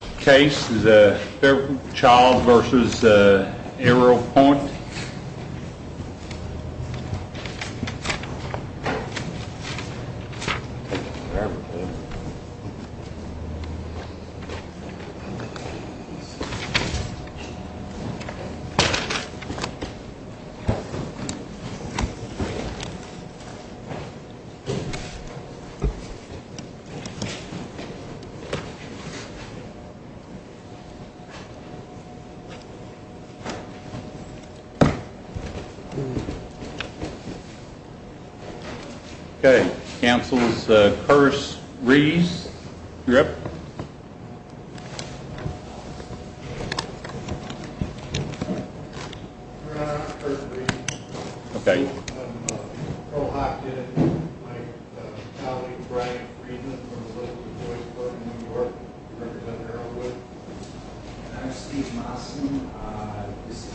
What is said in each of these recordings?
The case is Fairfield Child v. Arrowpoint. The case is Fairfield Child v. Arrowpoint. I'm Steve Mawson. This is Krystal Monchek. I'm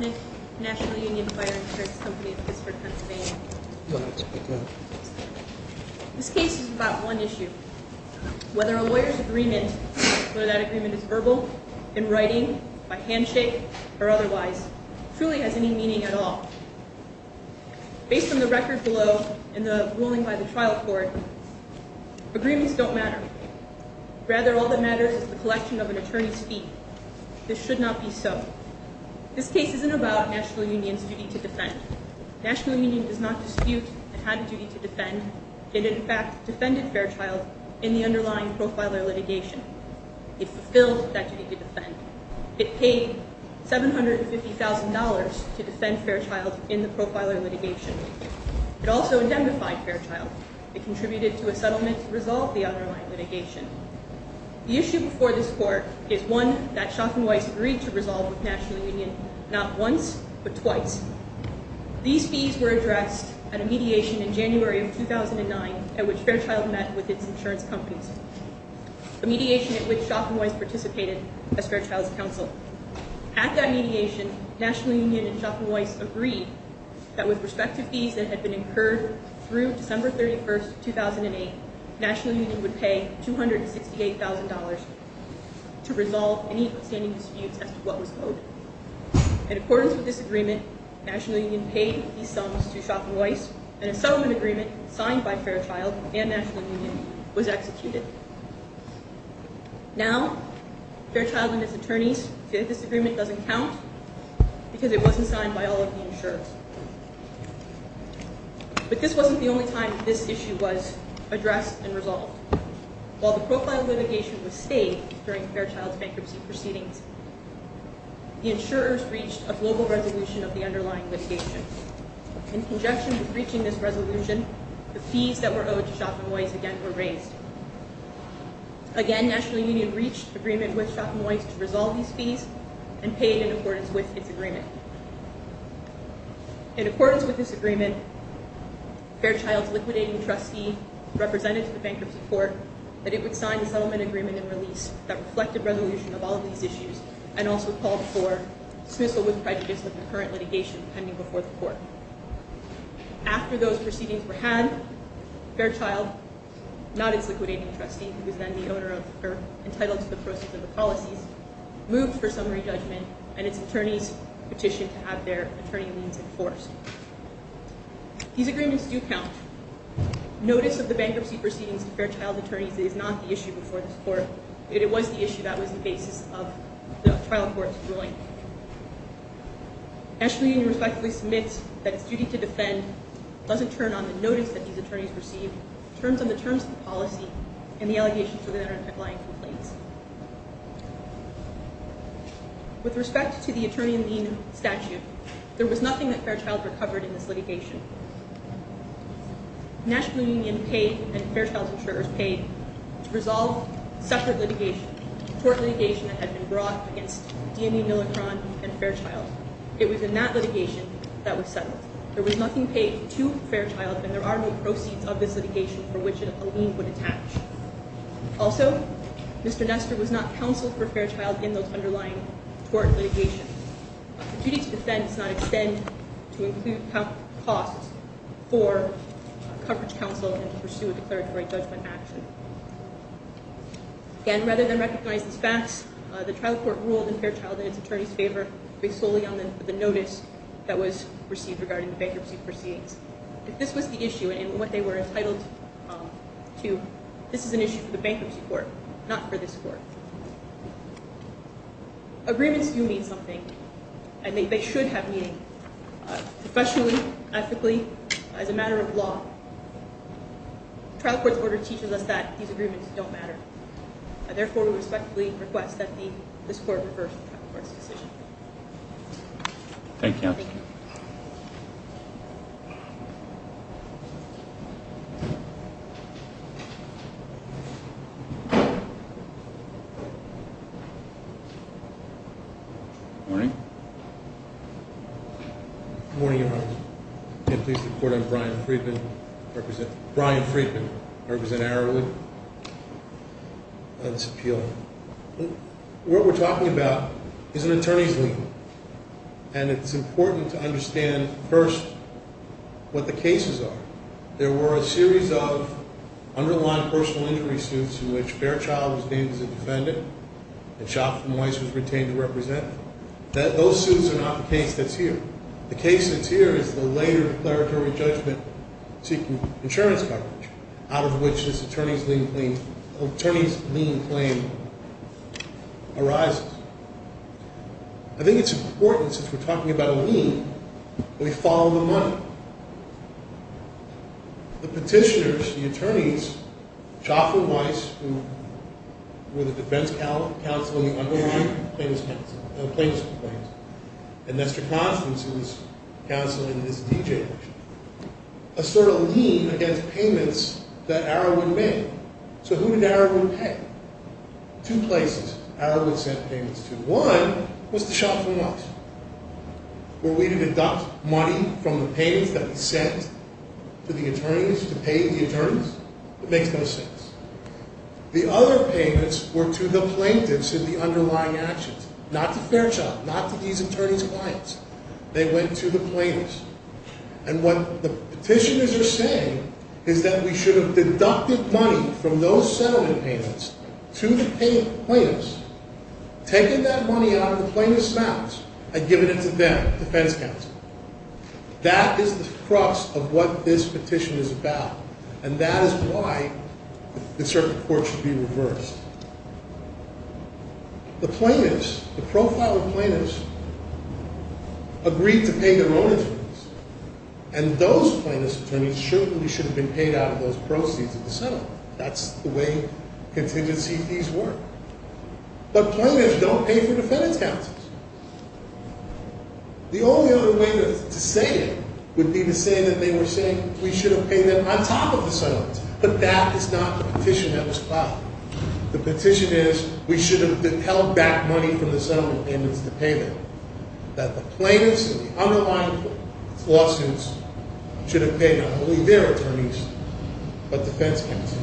with the National Union Fire Insurance Company of Pittsburgh, Pennsylvania. This case is about one issue. Whether a lawyer's agreement, whether that agreement is verbal, in writing, by handshake, or otherwise, truly has any meaning at all. Based on the record below and the ruling by the trial court, agreements don't matter. Rather, all that matters is the collection of an attorney's fee. This should not be so. This case isn't about National Union's duty to defend. National Union does not dispute it had a duty to defend. It, in fact, defended Fairchild in the underlying profiler litigation. It fulfilled that duty to defend. It paid $750,000 to defend Fairchild in the profiler litigation. It also indemnified Fairchild. It contributed to a settlement to resolve the underlying litigation. The issue before this court is one that Schoff and Weiss agreed to resolve with National Union not once, but twice. These fees were addressed at a mediation in January of 2009 at which Fairchild met with its insurance companies. A mediation at which Schoff and Weiss participated as Fairchild's counsel. At that mediation, National Union and Schoff and Weiss agreed that with respect to fees that had been incurred through December 31, 2008, National Union would pay $268,000 to resolve any outstanding disputes as to what was owed. In accordance with this agreement, National Union paid these sums to Schoff and Weiss, and a settlement agreement signed by Fairchild and National Union was executed. Now, Fairchild and his attorneys feel that this agreement doesn't count because it wasn't signed by all of the insurers. But this wasn't the only time this issue was addressed and resolved. While the profiler litigation was stayed during Fairchild's bankruptcy proceedings, the insurers reached a global resolution of the underlying litigation. In conjunction with reaching this resolution, the fees that were owed to Schoff and Weiss again were raised. Again, National Union reached agreement with Schoff and Weiss to resolve these fees and paid in accordance with its agreement. In accordance with this agreement, Fairchild's liquidating trustee represented to the bankruptcy court that it would sign a settlement agreement and release that reflected resolution of all of these issues and also called for dismissal with prejudice of the current litigation pending before the court. After those proceedings were had, Fairchild, not its liquidating trustee, who was then the owner of or entitled to the proceeds of the policies, moved for summary judgment and its attorneys petitioned to have their attorney liens enforced. These agreements do count. Notice of the bankruptcy proceedings of Fairchild's attorneys is not the issue before this court, but it was the issue that was the basis of the trial court's ruling. National Union respectfully submits that its duty to defend doesn't turn on the notice that these attorneys received, turns on the terms of the policy and the allegations of the underlying complaints. With respect to the attorney lien statute, there was nothing that Fairchild recovered in this litigation. National Union paid and Fairchild's insurers paid to resolve separate litigation, court litigation that had been brought against DME Millicron and Fairchild. It was in that litigation that was settled. There was nothing paid to Fairchild, and there are no proceeds of this litigation for which a lien would attach. Also, Mr. Nestor was not counseled for Fairchild in those underlying tort litigation. The duty to defend does not extend to include costs for coverage counsel and to pursue a declaratory judgment action. Again, rather than recognize these facts, the trial court ruled in Fairchild and its attorneys' favor, based solely on the notice that was received regarding the bankruptcy proceeds. If this was the issue and what they were entitled to, this is an issue for the bankruptcy court, not for this court. Agreements do mean something, and they should have meaning. Professionally, ethically, as a matter of law, trial court's order teaches us that these agreements don't matter. Therefore, we respectfully request that this court reverse the trial court's decision. Thank you. Good morning. Good morning, Your Honor. Can I please report I'm Brian Friedman. I represent Brian Friedman. I represent Arrowwood. It's appealing. What we're talking about is an attorney's lien, and it's important to understand first what the cases are. There were a series of underlying personal injury suits in which Fairchild was named as a defendant, and Shoffman Weiss was retained to represent. Those suits are not the case that's here. The case that's here is the later declaratory judgment seeking insurance coverage, out of which this attorney's lien claim arises. I think it's important, since we're talking about a lien, that we follow the money. The petitioners, the attorneys, Shoffman Weiss, who were the defense counsel in the underlying plaintiffs' complaints, and Nestor Constance, who was counsel in this D.J. case, assert a lien against payments that Arrowwood made. So who did Arrowwood pay? Two places Arrowwood sent payments to. One was to Shoffman Weiss, where we deduct money from the payments that he sent to the attorneys to pay the attorneys. It makes no sense. The other payments were to the plaintiffs in the underlying actions, not to Fairchild, not to these attorneys' clients. They went to the plaintiffs. And what the petitioners are saying is that we should have deducted money from those settlement payments to the plaintiffs, taken that money out of the plaintiffs' mouths, and given it to them, the defense counsel. That is the crux of what this petition is about, and that is why the circuit court should be reversed. The plaintiffs, the profiled plaintiffs, agreed to pay their own interests, and those plaintiffs' attorneys certainly should have been paid out of those proceeds of the settlement. That's the way contingency fees work. But plaintiffs don't pay for defense counsels. The only other way to say it would be to say that they were saying we should have paid them on top of the settlements, but that is not what the petition has allowed. The petition is we should have held back money from the settlement payments to pay them, that the plaintiffs in the underlying lawsuits should have paid not only their attorneys, but defense counsel.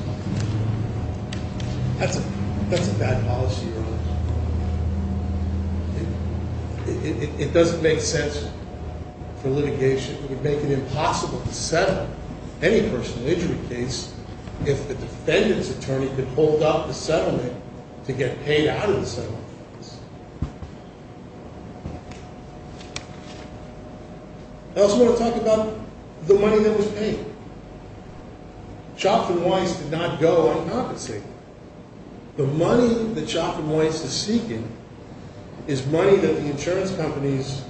That's a bad policy. It doesn't make sense for litigation. It would make it impossible to settle any personal injury case if the defendant's attorney could hold up the settlement to get paid out of the settlement payments. I also want to talk about the money that was paid. Chopton-Weiss did not go uncompensated. The money that Chopton-Weiss is seeking is money that the insurance companies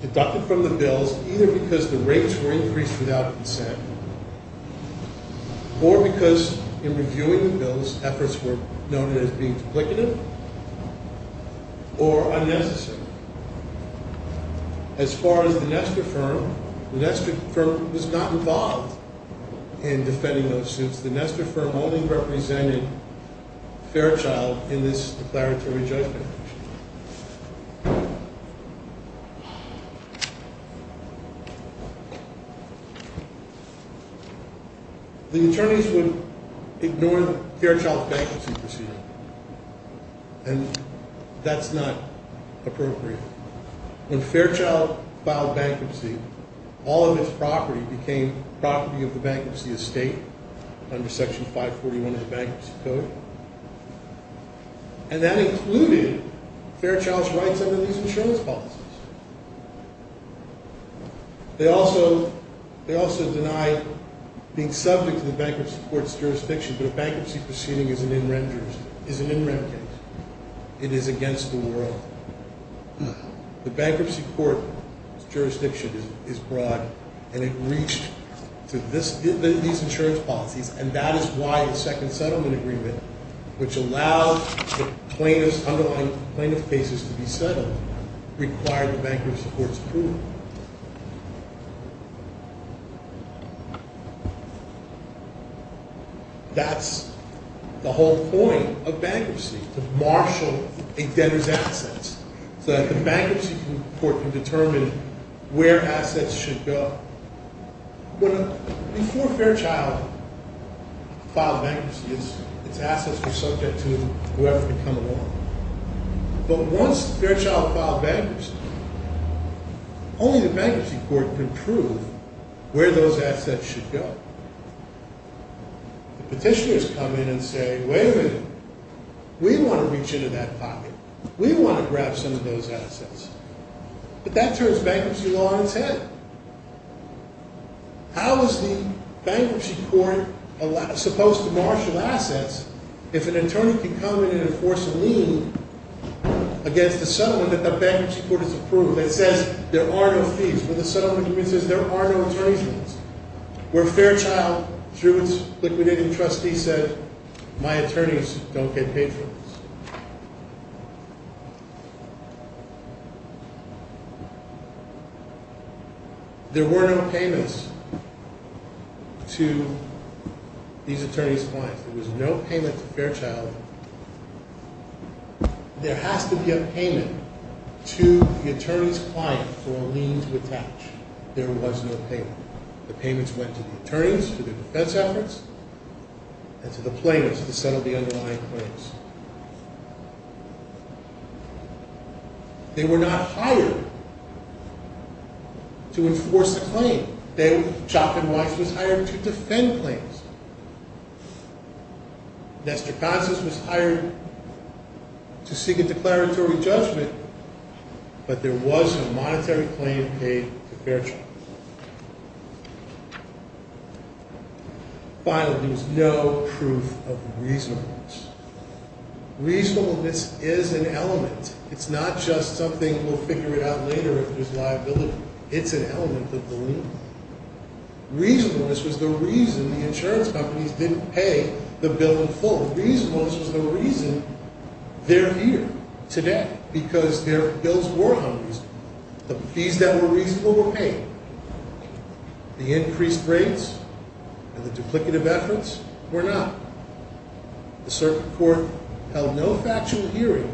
deducted from the bills, either because the rates were increased without consent, or because in reviewing the bills, efforts were noted as being duplicative or unnecessary. As far as the Nestor firm, the Nestor firm was not involved in defending those suits. The Nestor firm only represented Fairchild in this declaratory judgment. The attorneys would ignore Fairchild's bankruptcy procedure, and that's not appropriate. When Fairchild filed bankruptcy, all of his property became property of the bankruptcy estate, under Section 541 of the Bankruptcy Code, and that included Fairchild's rights under these insurance policies. They also deny being subject to the bankruptcy court's jurisdiction, but a bankruptcy proceeding is an in-rem case. It is against the world. The bankruptcy court's jurisdiction is broad, and it reached to these insurance policies, and that is why the second settlement agreement, which allowed the plaintiff's underlying cases to be settled, required the bankruptcy court's approval. That's the whole point of bankruptcy, to marshal a debtor's assets, so that the bankruptcy court can determine where assets should go. Before Fairchild filed bankruptcy, its assets were subject to whoever could come along. But once Fairchild filed bankruptcy, only the bankruptcy court could prove where those assets should go. Petitioners come in and say, wait a minute, we want to reach into that pocket. We want to grab some of those assets. But that turns bankruptcy law on its head. How is the bankruptcy court supposed to marshal assets if an attorney can come in and enforce a lien against the settlement that the bankruptcy court has approved that says there are no fees, where the settlement agreement says there are no attorney's liens, where Fairchild, through its liquidating trustee, said, my attorneys don't get paid for this. There were no payments to these attorney's clients. There was no payment to Fairchild. There has to be a payment to the attorney's client for a lien to attach. There was no payment. The payments went to the attorneys, to the defense efforts, and to the plaintiffs to settle the underlying claims. They were not hired to enforce the claim. Chopin-Weiss was hired to defend claims. Nestor Consens was hired to seek a declaratory judgment. But there was a monetary claim paid to Fairchild. Finally, there was no proof of reasonableness. Reasonableness is an element. It's not just something we'll figure out later if there's liability. It's an element of the lien. Reasonableness was the reason the insurance companies didn't pay the bill in full. Reasonableness was the reason they're here today, because their bills were unreasonable. The fees that were reasonable were paid. The increased rates and the duplicative efforts were not. The circuit court held no factual hearing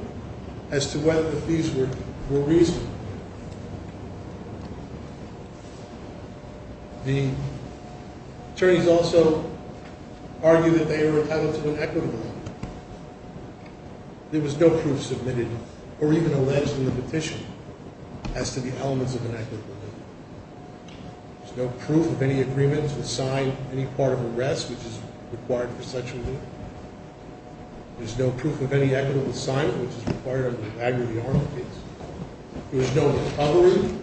as to whether the fees were reasonable. The attorneys also argued that they were a type of inequitable lien. There was no proof submitted or even alleged in the petition as to the elements of an equitable lien. There's no proof of any agreement to sign any part of a rest which is required for such a lien. There's no proof of any equitable sign which is required under the Bagger v. Arnold case. There was no recovery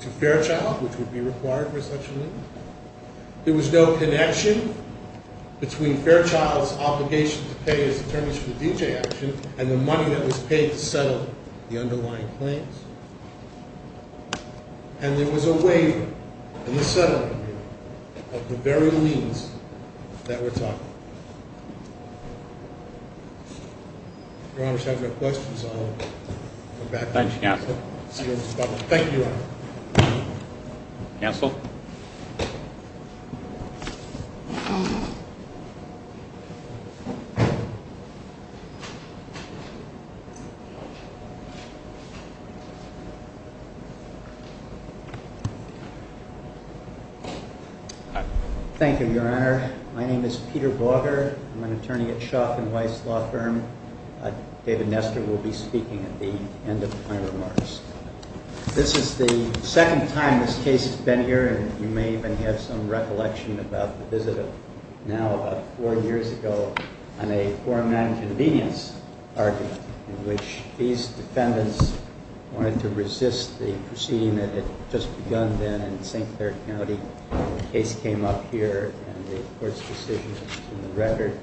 to Fairchild which would be required for such a lien. There was no connection between Fairchild's obligation to pay his attorneys for DJ action and the money that was paid to settle the underlying claims. And there was a waiver in the settling agreement of the very liens that we're talking about. Your Honor, if you have any questions, I'll go back to you. Thank you, Your Honor. Counsel? Thank you, Your Honor. My name is Peter Bagger. I'm an attorney at Schauff & Weiss Law Firm. David Nestor will be speaking at the end of my remarks. This is the second time this case has been heared. The fifth time was in 2017. The sixth time was in 2018. I'm sure you may even have some recollection about the visit of now about four years ago on a foreign land convenience argument in which these defendants wanted to resist the proceeding that had just begun then in St. Clair County. The case came up here and the court's decision in the record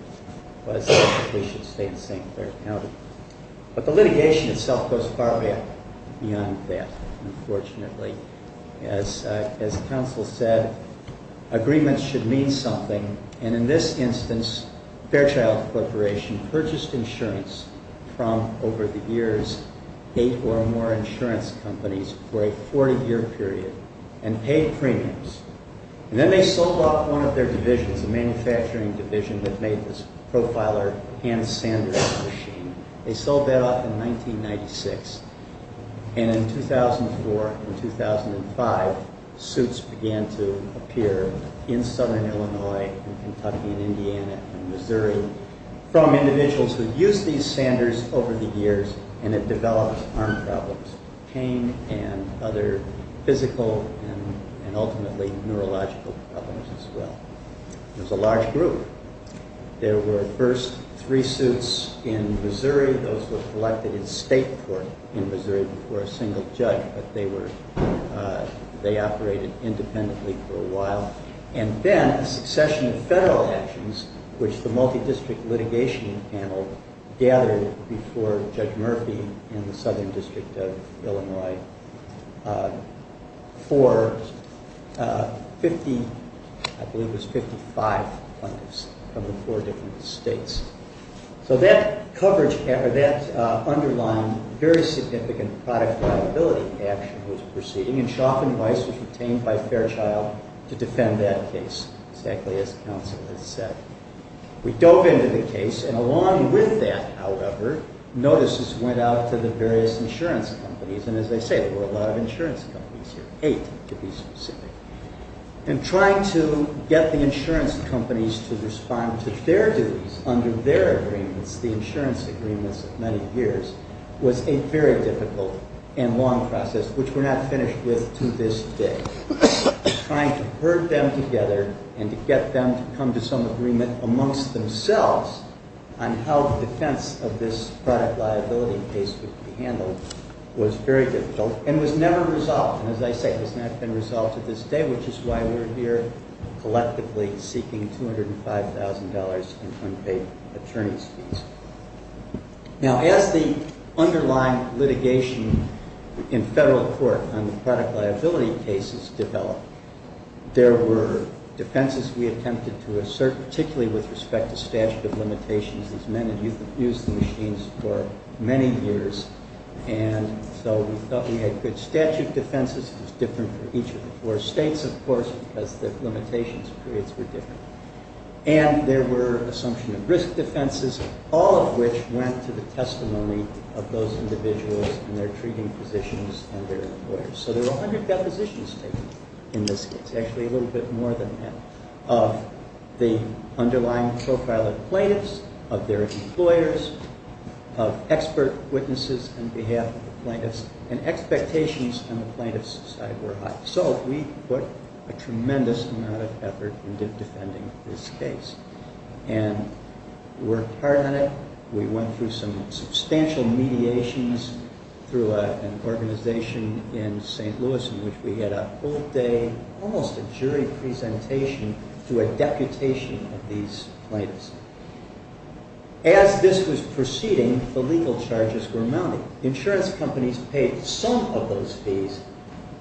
was that we should stay in St. Clair County. But the litigation itself goes far beyond that, unfortunately. As counsel said, agreements should mean something. And in this instance, Fairchild Corporation purchased insurance from, over the years, eight or more insurance companies for a 40-year period and paid premiums. And then they sold off one of their divisions, a manufacturing division that made this Profiler hand-sander machine. They sold that off in 1996. And in 2004 and 2005, suits began to appear in southern Illinois and Kentucky and Indiana and Missouri from individuals who used these sanders over the years and had developed arm problems, pain and other physical and ultimately neurological problems as well. It was a large group. There were first three suits in Missouri. Those were collected in state court in Missouri before a single judge. But they operated independently for a while. And then a succession of federal actions, which the multi-district litigation panel gathered before Judge Murphy in the southern district of Illinois for 50, I believe it was 55 plaintiffs. From the four different states. So that underlined very significant product liability action was proceeding. And Schauff and Weiss was retained by Fairchild to defend that case, exactly as counsel has said. We dove into the case. And along with that, however, notices went out to the various insurance companies. And as I say, there were a lot of insurance companies here, eight to be specific. And trying to get the insurance companies to respond to their duties under their agreements, the insurance agreements of many years, was a very difficult and long process, which we're not finished with to this day. Trying to herd them together and to get them to come to some agreement amongst themselves on how the defense of this product liability case would be handled was very difficult and was never resolved. And as I say, it has not been resolved to this day, which is why we're here collectively seeking $205,000 in unpaid attorney's fees. Now, as the underlying litigation in federal court on the product liability cases developed, there were defenses we attempted to assert, particularly with respect to statute of limitations. These men had used the machines for many years. And so we thought we had good statute defenses. It was different for each of the four states, of course, because the limitations periods were different. And there were assumption of risk defenses, all of which went to the testimony of those individuals and their treating physicians and their employers. So there were 100 depositions taken in this case, actually a little bit more than that, of the underlying profile of plaintiffs, of their employers, of expert witnesses on behalf of the plaintiffs, and expectations on the plaintiffs' side were high. So we put a tremendous amount of effort into defending this case and worked hard on it. We went through some substantial mediations through an organization in St. Louis in which we had a full-day, almost a jury presentation to a deputation of these plaintiffs. As this was proceeding, the legal charges were mounting. Insurance companies paid some of those fees,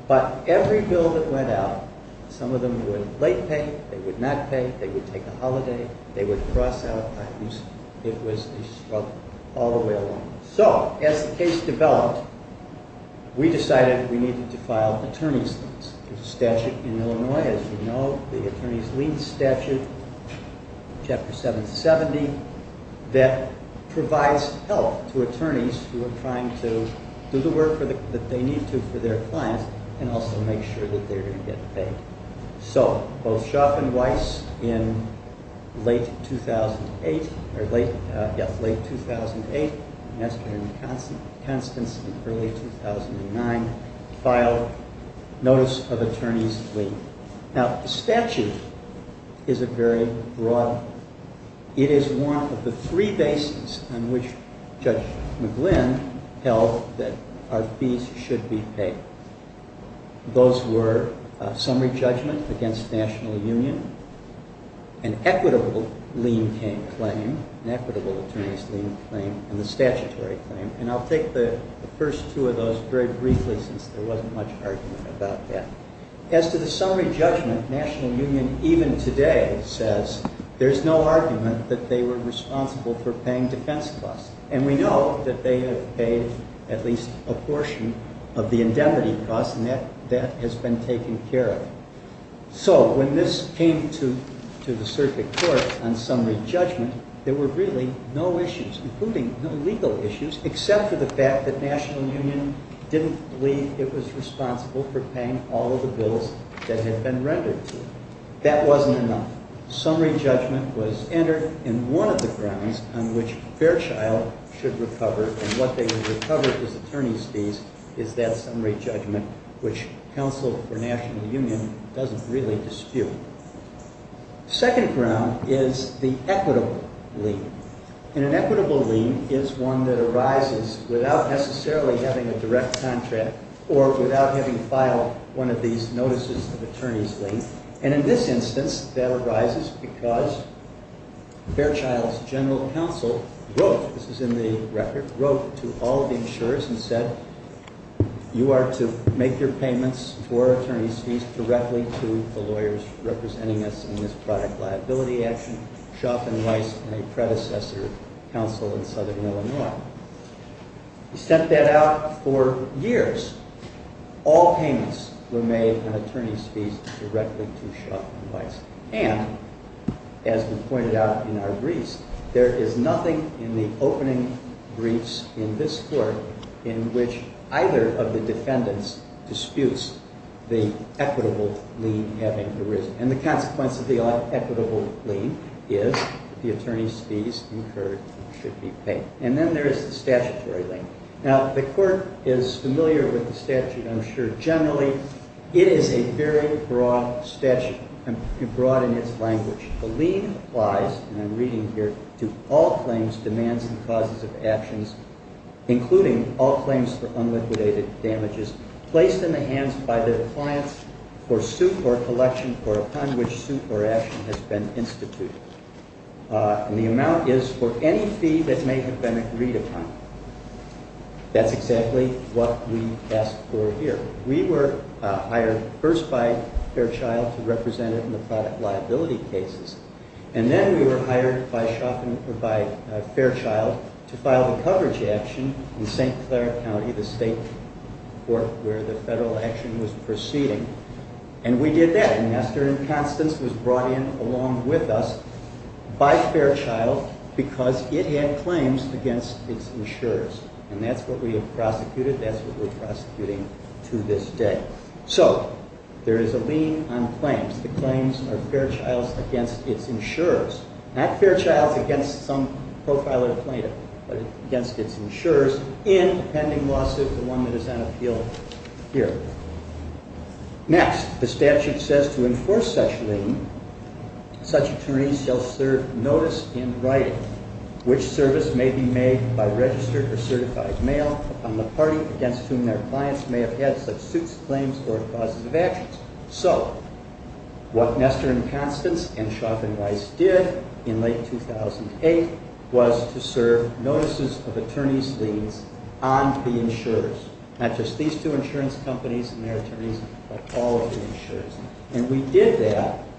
but every bill that went out, some of them would late pay, they would not pay, they would take a holiday, they would cross out. It was a struggle all the way along. So as the case developed, we decided we needed to file attorney's liens. There's a statute in Illinois, as you know, the Attorney's Lien Statute, Chapter 770, that provides help to attorneys who are trying to do the work that they need to for their clients and also make sure that they're going to get paid. So both Schauff and Weiss in late 2008, yes, late 2008, and Constance in early 2009 filed Notice of Attorney's Lien. Now, the statute is a very broad one. It is one of the three bases on which Judge McGlynn held that our fees should be paid. Those were summary judgment against National Union, an equitable lien claim, an equitable attorney's lien claim, and the statutory claim. And I'll take the first two of those very briefly since there wasn't much argument about that. As to the summary judgment, National Union even today says there's no argument that they were responsible for paying defense costs. And we know that they have paid at least a portion of the indemnity costs, and that has been taken care of. So when this came to the circuit court on summary judgment, there were really no issues, including no legal issues, except for the fact that National Union didn't believe it was responsible for all the bills that had been rendered to it. That wasn't enough. Summary judgment was entered in one of the grounds on which Fairchild should recover, and what they would recover as attorney's fees is that summary judgment, which counsel for National Union doesn't really dispute. Second ground is the equitable lien. And an equitable lien is one that arises without necessarily having a direct contract or without having filed one of these notices of attorney's lien. And in this instance, that arises because Fairchild's general counsel wrote, this is in the record, wrote to all the insurers and said, you are to make your payments for attorney's fees directly to the lawyers representing us in this product liability action, Schauff and Weiss and a predecessor counsel in southern Illinois. He sent that out for years. All payments were made on attorney's fees directly to Schauff and Weiss. And as we pointed out in our briefs, there is nothing in the opening briefs in this court in which either of the defendants disputes the equitable lien having arisen. And the consequence of the equitable lien is the attorney's fees incurred should be paid. Here is the statutory lien. Now, the court is familiar with the statute, I'm sure, generally. It is a very broad statute and broad in its language. The lien applies, and I'm reading here, to all claims, demands, and causes of actions, including all claims for unliquidated damages placed in the hands by the clients for suit or collection or upon which suit or action has been instituted. That's exactly what we ask for here. We were hired first by Fairchild to represent it in the product liability cases. And then we were hired by Fairchild to file the coverage action in St. Clair County, the state court where the federal action was proceeding. And we did that. And Master and Constance was brought in along with us by Fairchild because it had claims against its insurers. And that's what we have prosecuted. That's what we're prosecuting to this day. So, there is a lien on claims. The claims are Fairchild's against its insurers. Not Fairchild's against some profiler plaintiff, but against its insurers in a pending lawsuit, the one that is on appeal here. Next, the statute says to enforce such lien, such attorneys shall serve notice in writing which service may be made by registered or certified mail upon the party against whom their clients may have had such suits, claims, or causes of actions. So, what Master and Constance and Chauvin Weiss did in late 2008 was to serve notices of attorneys' liens on the insurers. Not just these two insurance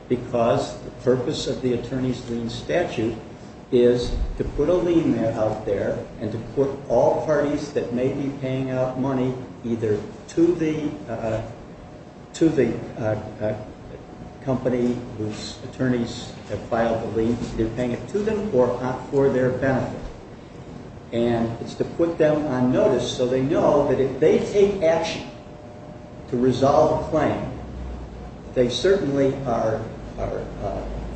because the purpose of the attorney's lien statute is to put a lien out there and to put all parties that may be paying out money either to the to the company whose attorneys have filed the lien. They're paying it to them or for their benefit. And it's to put them on notice so they know that if they take action to resolve a claim, they certainly are are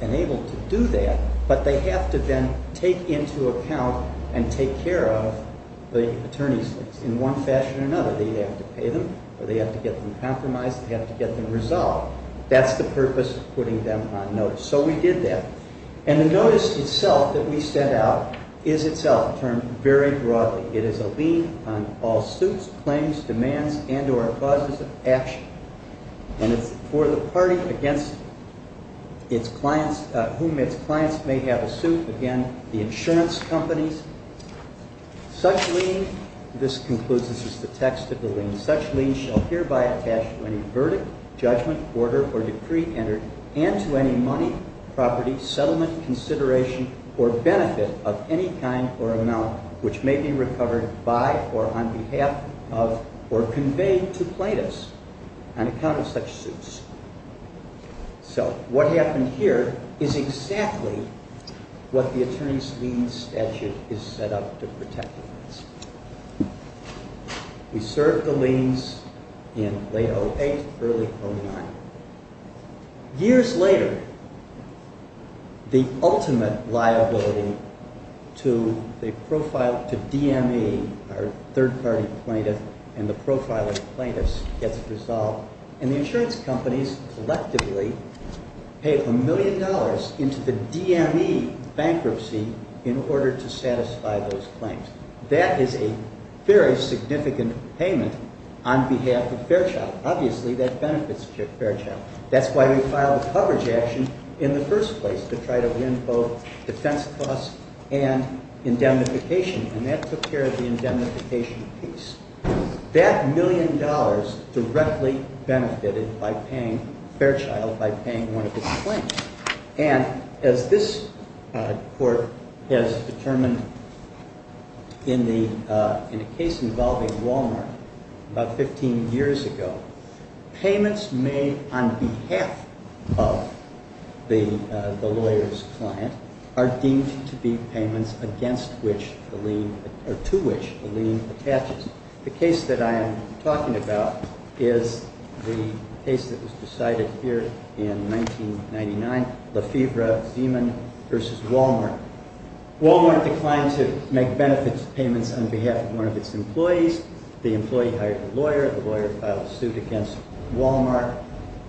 enabled to do that but they have to then take into account and take care of the attorney's liens in one fashion or another. They have to pay them or they have to get them compromised or they have to get them resolved. That's the purpose of putting them on notice. So we did that. And the notice itself that we sent out is itself termed very broadly. It is a lien on all suits, claims, demands, and or causes of action. And it's for the party against its clients whom its clients may have a suit against the insurance companies. Such lien this concludes this is the text of the lien such lien shall hereby attach to any verdict, judgment, order, or decree entered and to any money, property, settlement, consideration, or benefit of any kind or amount which may be recovered by or on behalf of or conveyed to plaintiffs on account of such suits. So what happened here is exactly what the attorney's lien statute is set up to protect against. We served the liens in late 08, early 09. Years later the ultimate liability to the profile to DME our third party plaintiff and the profiling plaintiffs gets resolved and the insurance companies collectively pay a million dollars into the DME bankruptcy in order to satisfy those claims. That is a very significant payment on behalf of Fairchild. Obviously that benefits Fairchild. That's why we filed a coverage action in the first place to try to win both defense costs and indemnification and that took care of the indemnification piece. That million dollars directly benefited Fairchild by paying one of its claims. As this court has determined in the case involving Walmart years ago payments made on behalf of the lawyer's client are deemed to be payments against which the lien or to which the lien attaches. The case that I am talking about is the case that was decided here in 1999 Lefebvre Zeeman versus Walmart. Walmart declined to make benefits payments on behalf of one of its employees. The employee hired a lawyer. The lawyer filed a suit against Walmart.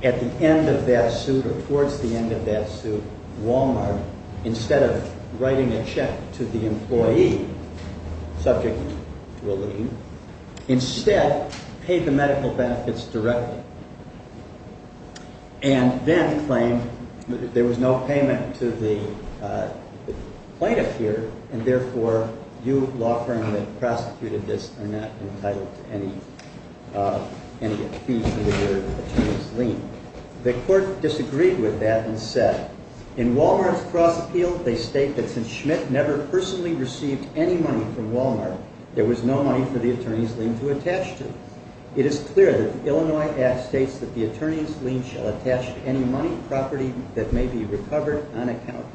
At the end of that suit or in the case of Lefebvre Zeeman the employee was not entitled to any payment. The court disagreed with that and said in Walmart's cross appeal they state that since Schmidt never personally received any money from Walmart there was no money for the attorney's lien to attach to. It is clear that the Illinois Act states that the attorney's lien shall attach to any money property that may be recovered on account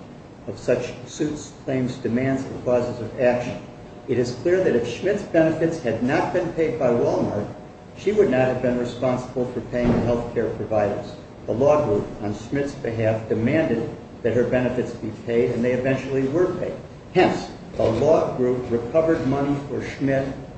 of such suits, claims, demands, and causes of action. It is clear that if Schmidt's benefits had not been paid by Schmidt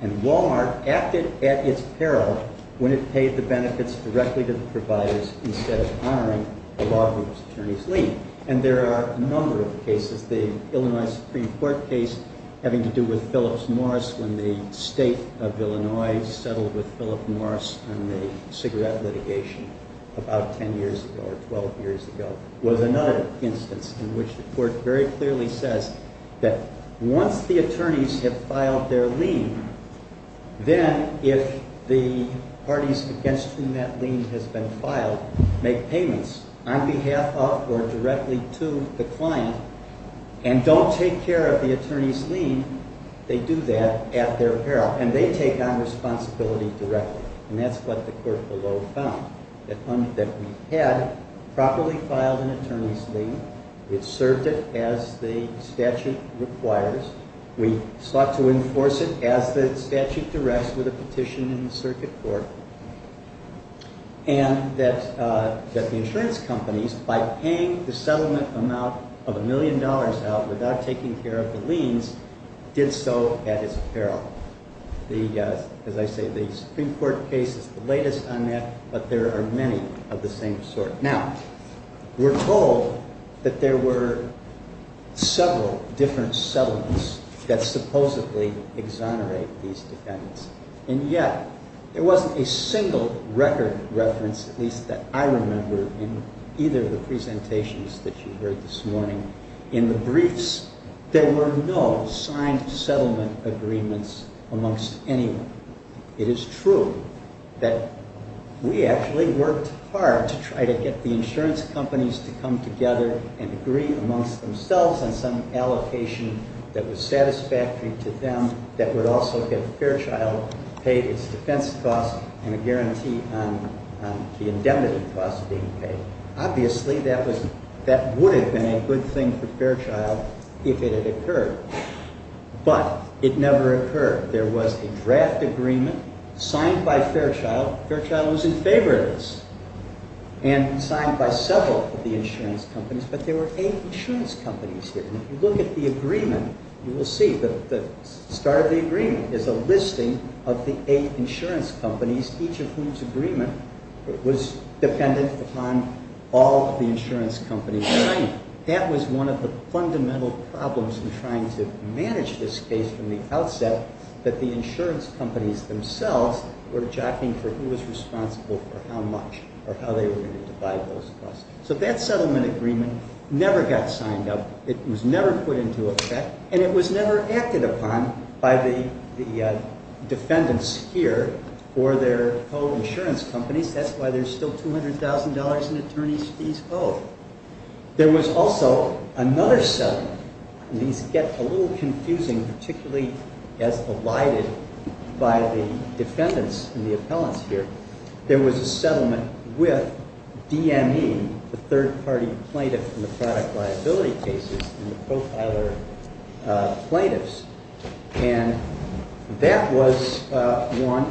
and Walmart acted at its peril when it paid the benefits directly to the providers instead of honoring the law group's attorney's lien. And there are a number of cases. The Illinois Supreme Court case having to do with Phillips Morris when the court found that the court had properly filed an attorney's we sought to enforce it as the statute requires, we sought to enforce it as the statute requires, we sought to enforce it as the statute directs with a petition in the circuit court and that the insurance companies by paying the settlement amount of a million dollars out without taking care of the liens did so at its peril. As I say, the Supreme Court case is the latest on that but there are many of the same sort. Now, we're told that there were several different settlements that supposedly exonerate these defendants and yet there wasn't a single record reference at least that I remember in either of the presentations that you heard this morning. In the briefs, there were no signed settlement agreements amongst anyone. It is true that we actually worked hard to try to get the insurance companies to come together and agree amongst themselves on some allocation that was satisfactory to them that would also get Fairchild to pay its defense costs and a guarantee on the indemnity costs being paid. Obviously, that been a good thing for Fairchild if it had occurred but it never occurred. There was a draft agreement signed by Fairchild. Fairchild was in charge of the agreement as a listing of the eight insurance companies, each of whose agreement was dependent upon all the insurance companies signing. That was one of the fundamental problems in trying to manage this case from the outset that the insurance companies themselves were jockeying for who was responsible for how much or how they were going to divide those costs. So that settlement agreement never got signed up. It was never put into effect and it was never acted upon by the defendants here or their co- insurance companies. That's why there's still $200,000 in attorneys fees owed. There was also another settlement, and these get a little confusing, particularly as elided by the defendants and the appellants here. There was a settlement with DME, the third party plaintiff in the product liability cases and the profiler plaintiffs, and that was one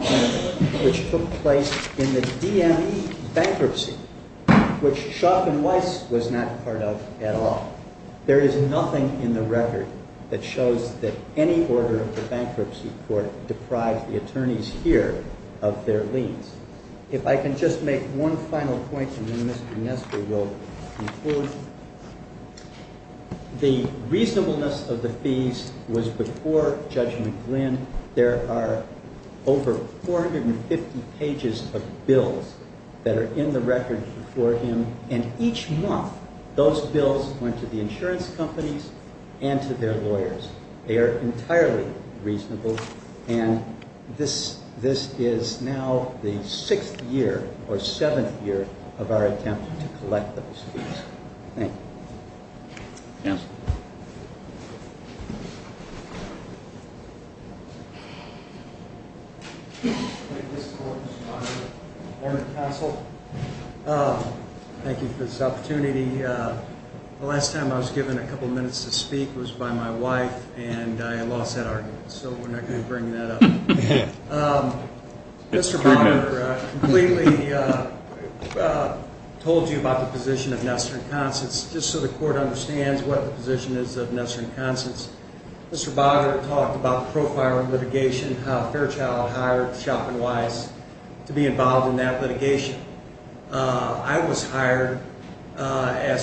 which took place in the DME bankruptcy, which Schauff and Weiss was not part of at all. There is nothing in the record that shows that any order of the bankruptcy court deprived the attorneys here of their liens. If I can just make one final point and then Mr. Nester will conclude. The reasonableness of the fees was before Judge McGlynn. There are over 450 pages of bills that are in the record for him and each month those bills went to the insurance companies and to their lawyers. They are entirely reasonable and this is now the sixth year or seventh year of our attempt to collect those fees. Thank you. Thank you for this opportunity. The last time I was given a couple of minutes to speak was by my wife and I lost that argument so we're not going to bring that up. Mr. Bonner completely told you about the position of Nestor and Constance just so the court understands what the position is of Nestor and Constance. Mr. Bonner talked about the profile of litigation, how Fairchild hired Shop and Wise to be involved in that litigation. I was hired as a lawyer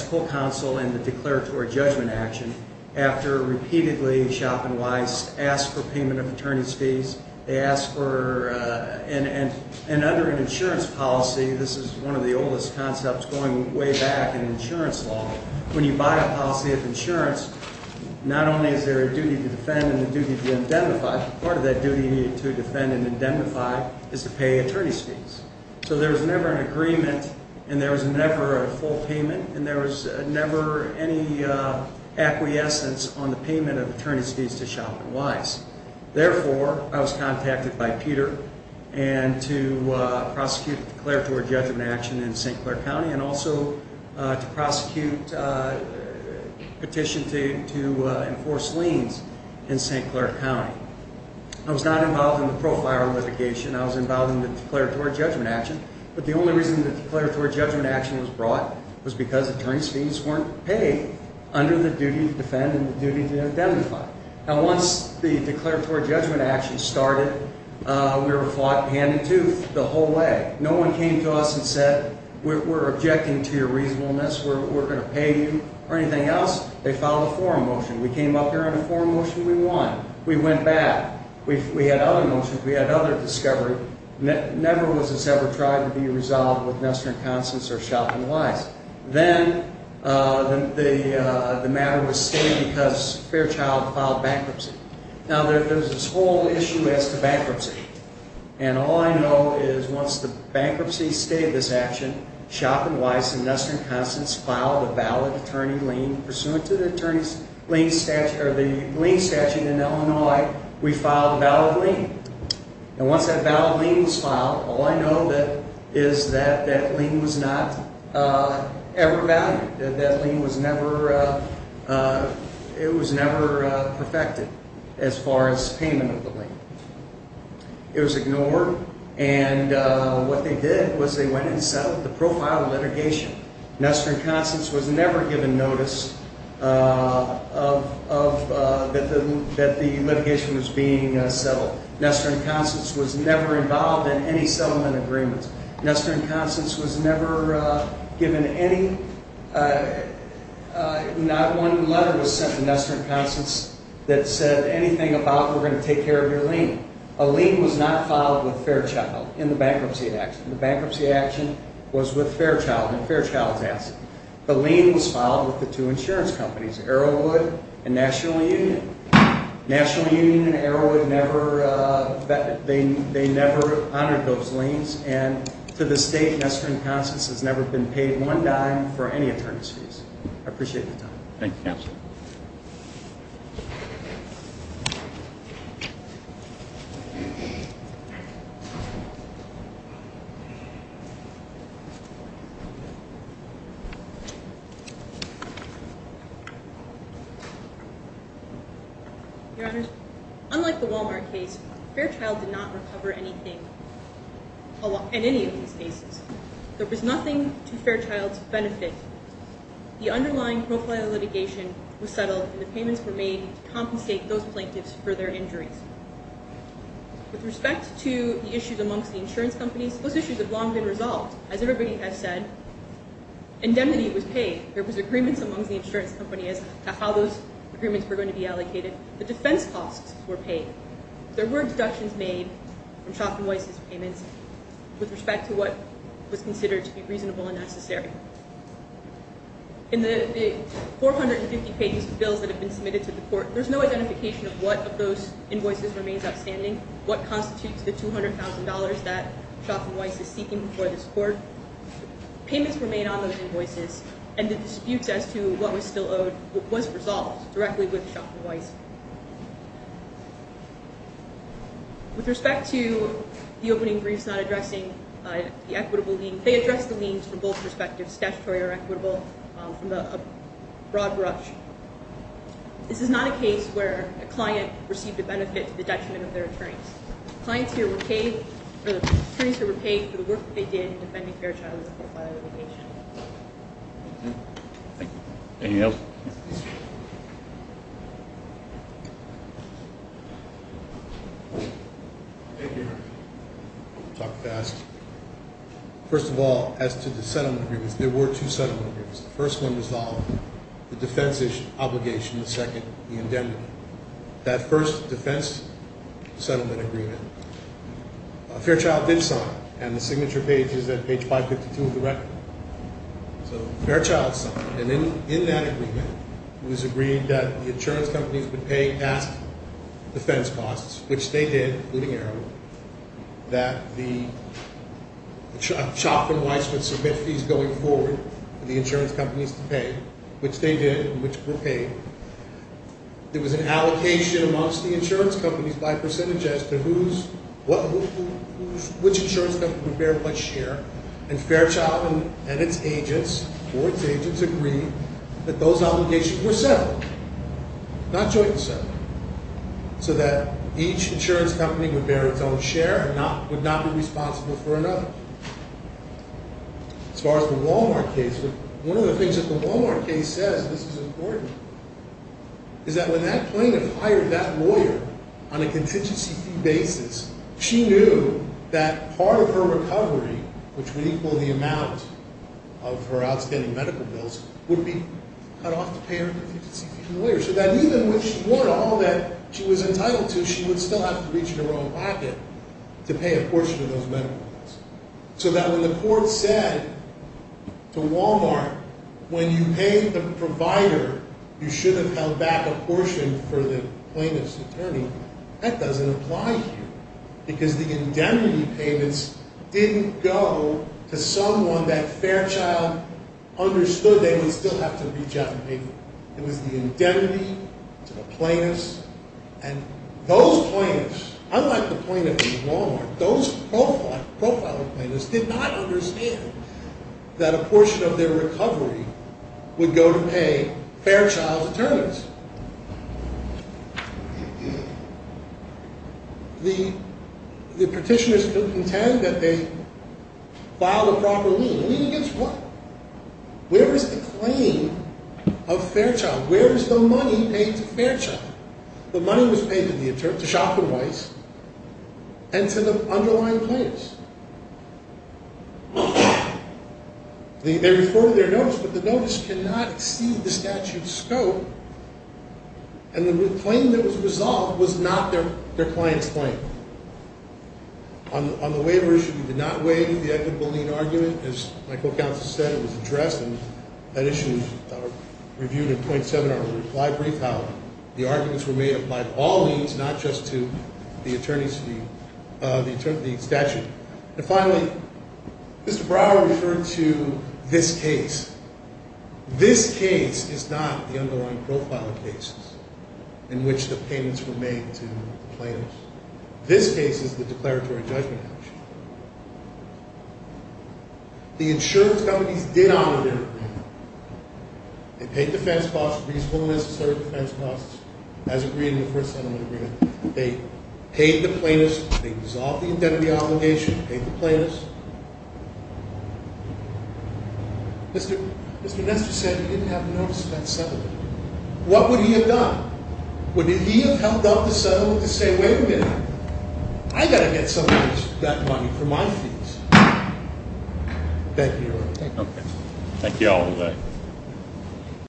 and under an insurance policy, this is one of the oldest concepts going way back in insurance law, when you buy a policy of insurance, not only is there a duty to defend and a duty to indemnify, part of that duty to defend and indemnify is to pay attorney fees to Shop and Wise. Therefore, I was contacted by Peter and to prosecute declaratory judgment action in St. Clair County and also to prosecute petition to enforce liens in St. Clair County. I was not involved in the profile of litigation. I was involved in the declaratory judgment reason the declaratory judgment action was brought was because attorney fees weren't paid under the duty to defend and the duty to indemnify. Once the declaratory judgment action started, we were fought hand and tooth the whole way. No one came to us and said we object to your reasonableness. They filed a forum motion. We came up here and we won. We went back. We had other motions and other discoveries. It never was resolved with Shop and Wise. Then the matter was saved because Fairchild filed bankruptcy. There's this whole issue as to bankruptcy. All I know is once the bankruptcy stayed this action, Shop and Wise and Western Constance filed a valid attorney lien. Pursuant to the lien statute in Illinois, we filed a valid lien. Once that valid lien was filed, all I know is that that lien was not ever valid. That lien was never perfected as far as payment of loan. And what they did was they went and settled the profile litigation. Western Constance was never given notice that the litigation was being settled. Western Constance was never involved in any settlement agreements. Western Constance was never given any, not one letter to Western Constance that said anything about we're going to take care of your lien. A lien was not filed with Fairchild in the bankruptcy action. The bankruptcy action was with Fairchild and Fairchild's asset. The lien was filed with the two insurance companies, Arrowwood and National Union. National Union and Arrowwood never, they never honored those liens and to the state Western Constance has never been paid one dime for appreciate the time. Thank you counsel. Your Honor, unlike the Walden case, the Walden case, the Walden case, the case, Fairchild did not recover anything in any of these cases. There was nothing to Fairchild's The underlying profile litigation was settled and the payments were made to compensate those plaintiffs for their injuries. With respect to the issues that were going to be allocated, the defense costs were paid. There were deductions made with respect to what was considered to be reasonable and necessary. In the 450 pages of bills that have been submitted to the court, there's no identification of what of those invoices remains outstanding, what constitutes the $200,000 that Shoffman Weiss is seeking before this court. Payments were made on those invoices and the disputes as to what was still owed was resolved directly with Shoffman Weiss. With respect to the opening briefs, not addressing the equitable liens, they addressed the liens from both perspectives. This is not a case where a client received a benefit to the detriment of their attorneys. The attorneys here were paid for the work they did in defending fair child rights. Any else? First of all, as to the settlement agreements, there were two settlement agreements. The first one resolved the defense obligation and the second the indemnity. That first defense settlement agreement, Fairchild did sign and the signature page is at page 552 of the record. So Fairchild signed and in that agreement it was agreed that the insurance companies would bear what share and Fairchild and its agents agreed that those obligations were settled, not jointly settled, so that each insurance company would bear its own share and would not be responsible for another. As far as the Wal-Mart case, one of the things that the Wal-Mart case says is that when that plaintiff hired that lawyer on a contingency fee basis, she knew that part of her recovery, which would equal the amount of her outstanding medical bills, would be cut off to pay her contingency fee. So that even if she wanted all that she was entitled to, she would still have to reach in her own pocket to pay a portion of those medical bills. So that when the court said to Wal-Mart, when you paid the provider, you should have held back a portion for the plaintiff's attorney, that doesn't apply here because the indemnity payments didn't go to someone that Fairchild understood they would still have to reach out and pay them. It was the indemnity to the plaintiff's and those plaintiffs, unlike the plaintiff in Wal-Mart, those profiler plaintiffs did not understand that a portion of their recovery would go to Fairchild's attorneys. The petitioners contend that they filed a proper lien. A lien against what? Where is the claim of Fairchild? Where is the money paid to Fairchild? The money was paid to Shopkin Weiss and to the underlying plaintiffs. They reported their notice, but the notice cannot exceed the statute's scope. And the claim that was resolved was not their client's claim. On the waiver issue, we did not weigh the equitable lien argument. As my co-counsel said, it was addressed and that issue was reviewed by the plaintiffs. Mr. Brower referred to this case. This case is not the underlying profile of cases in which the payments were made to the plaintiffs. This case is the declaratory judgment act. The insurance companies did honor their commitment. They paid defense costs as agreed in the first settlement agreement. They paid the plaintiffs. They dissolved the indemnity obligation, paid the plaintiffs the agreed. did not pay the insurance companies as agreed. The plaintiffs did not pay the insurance companies as agreed. The The plaintiffs did not pay the insurance companies as agreed. The plaintiffs did not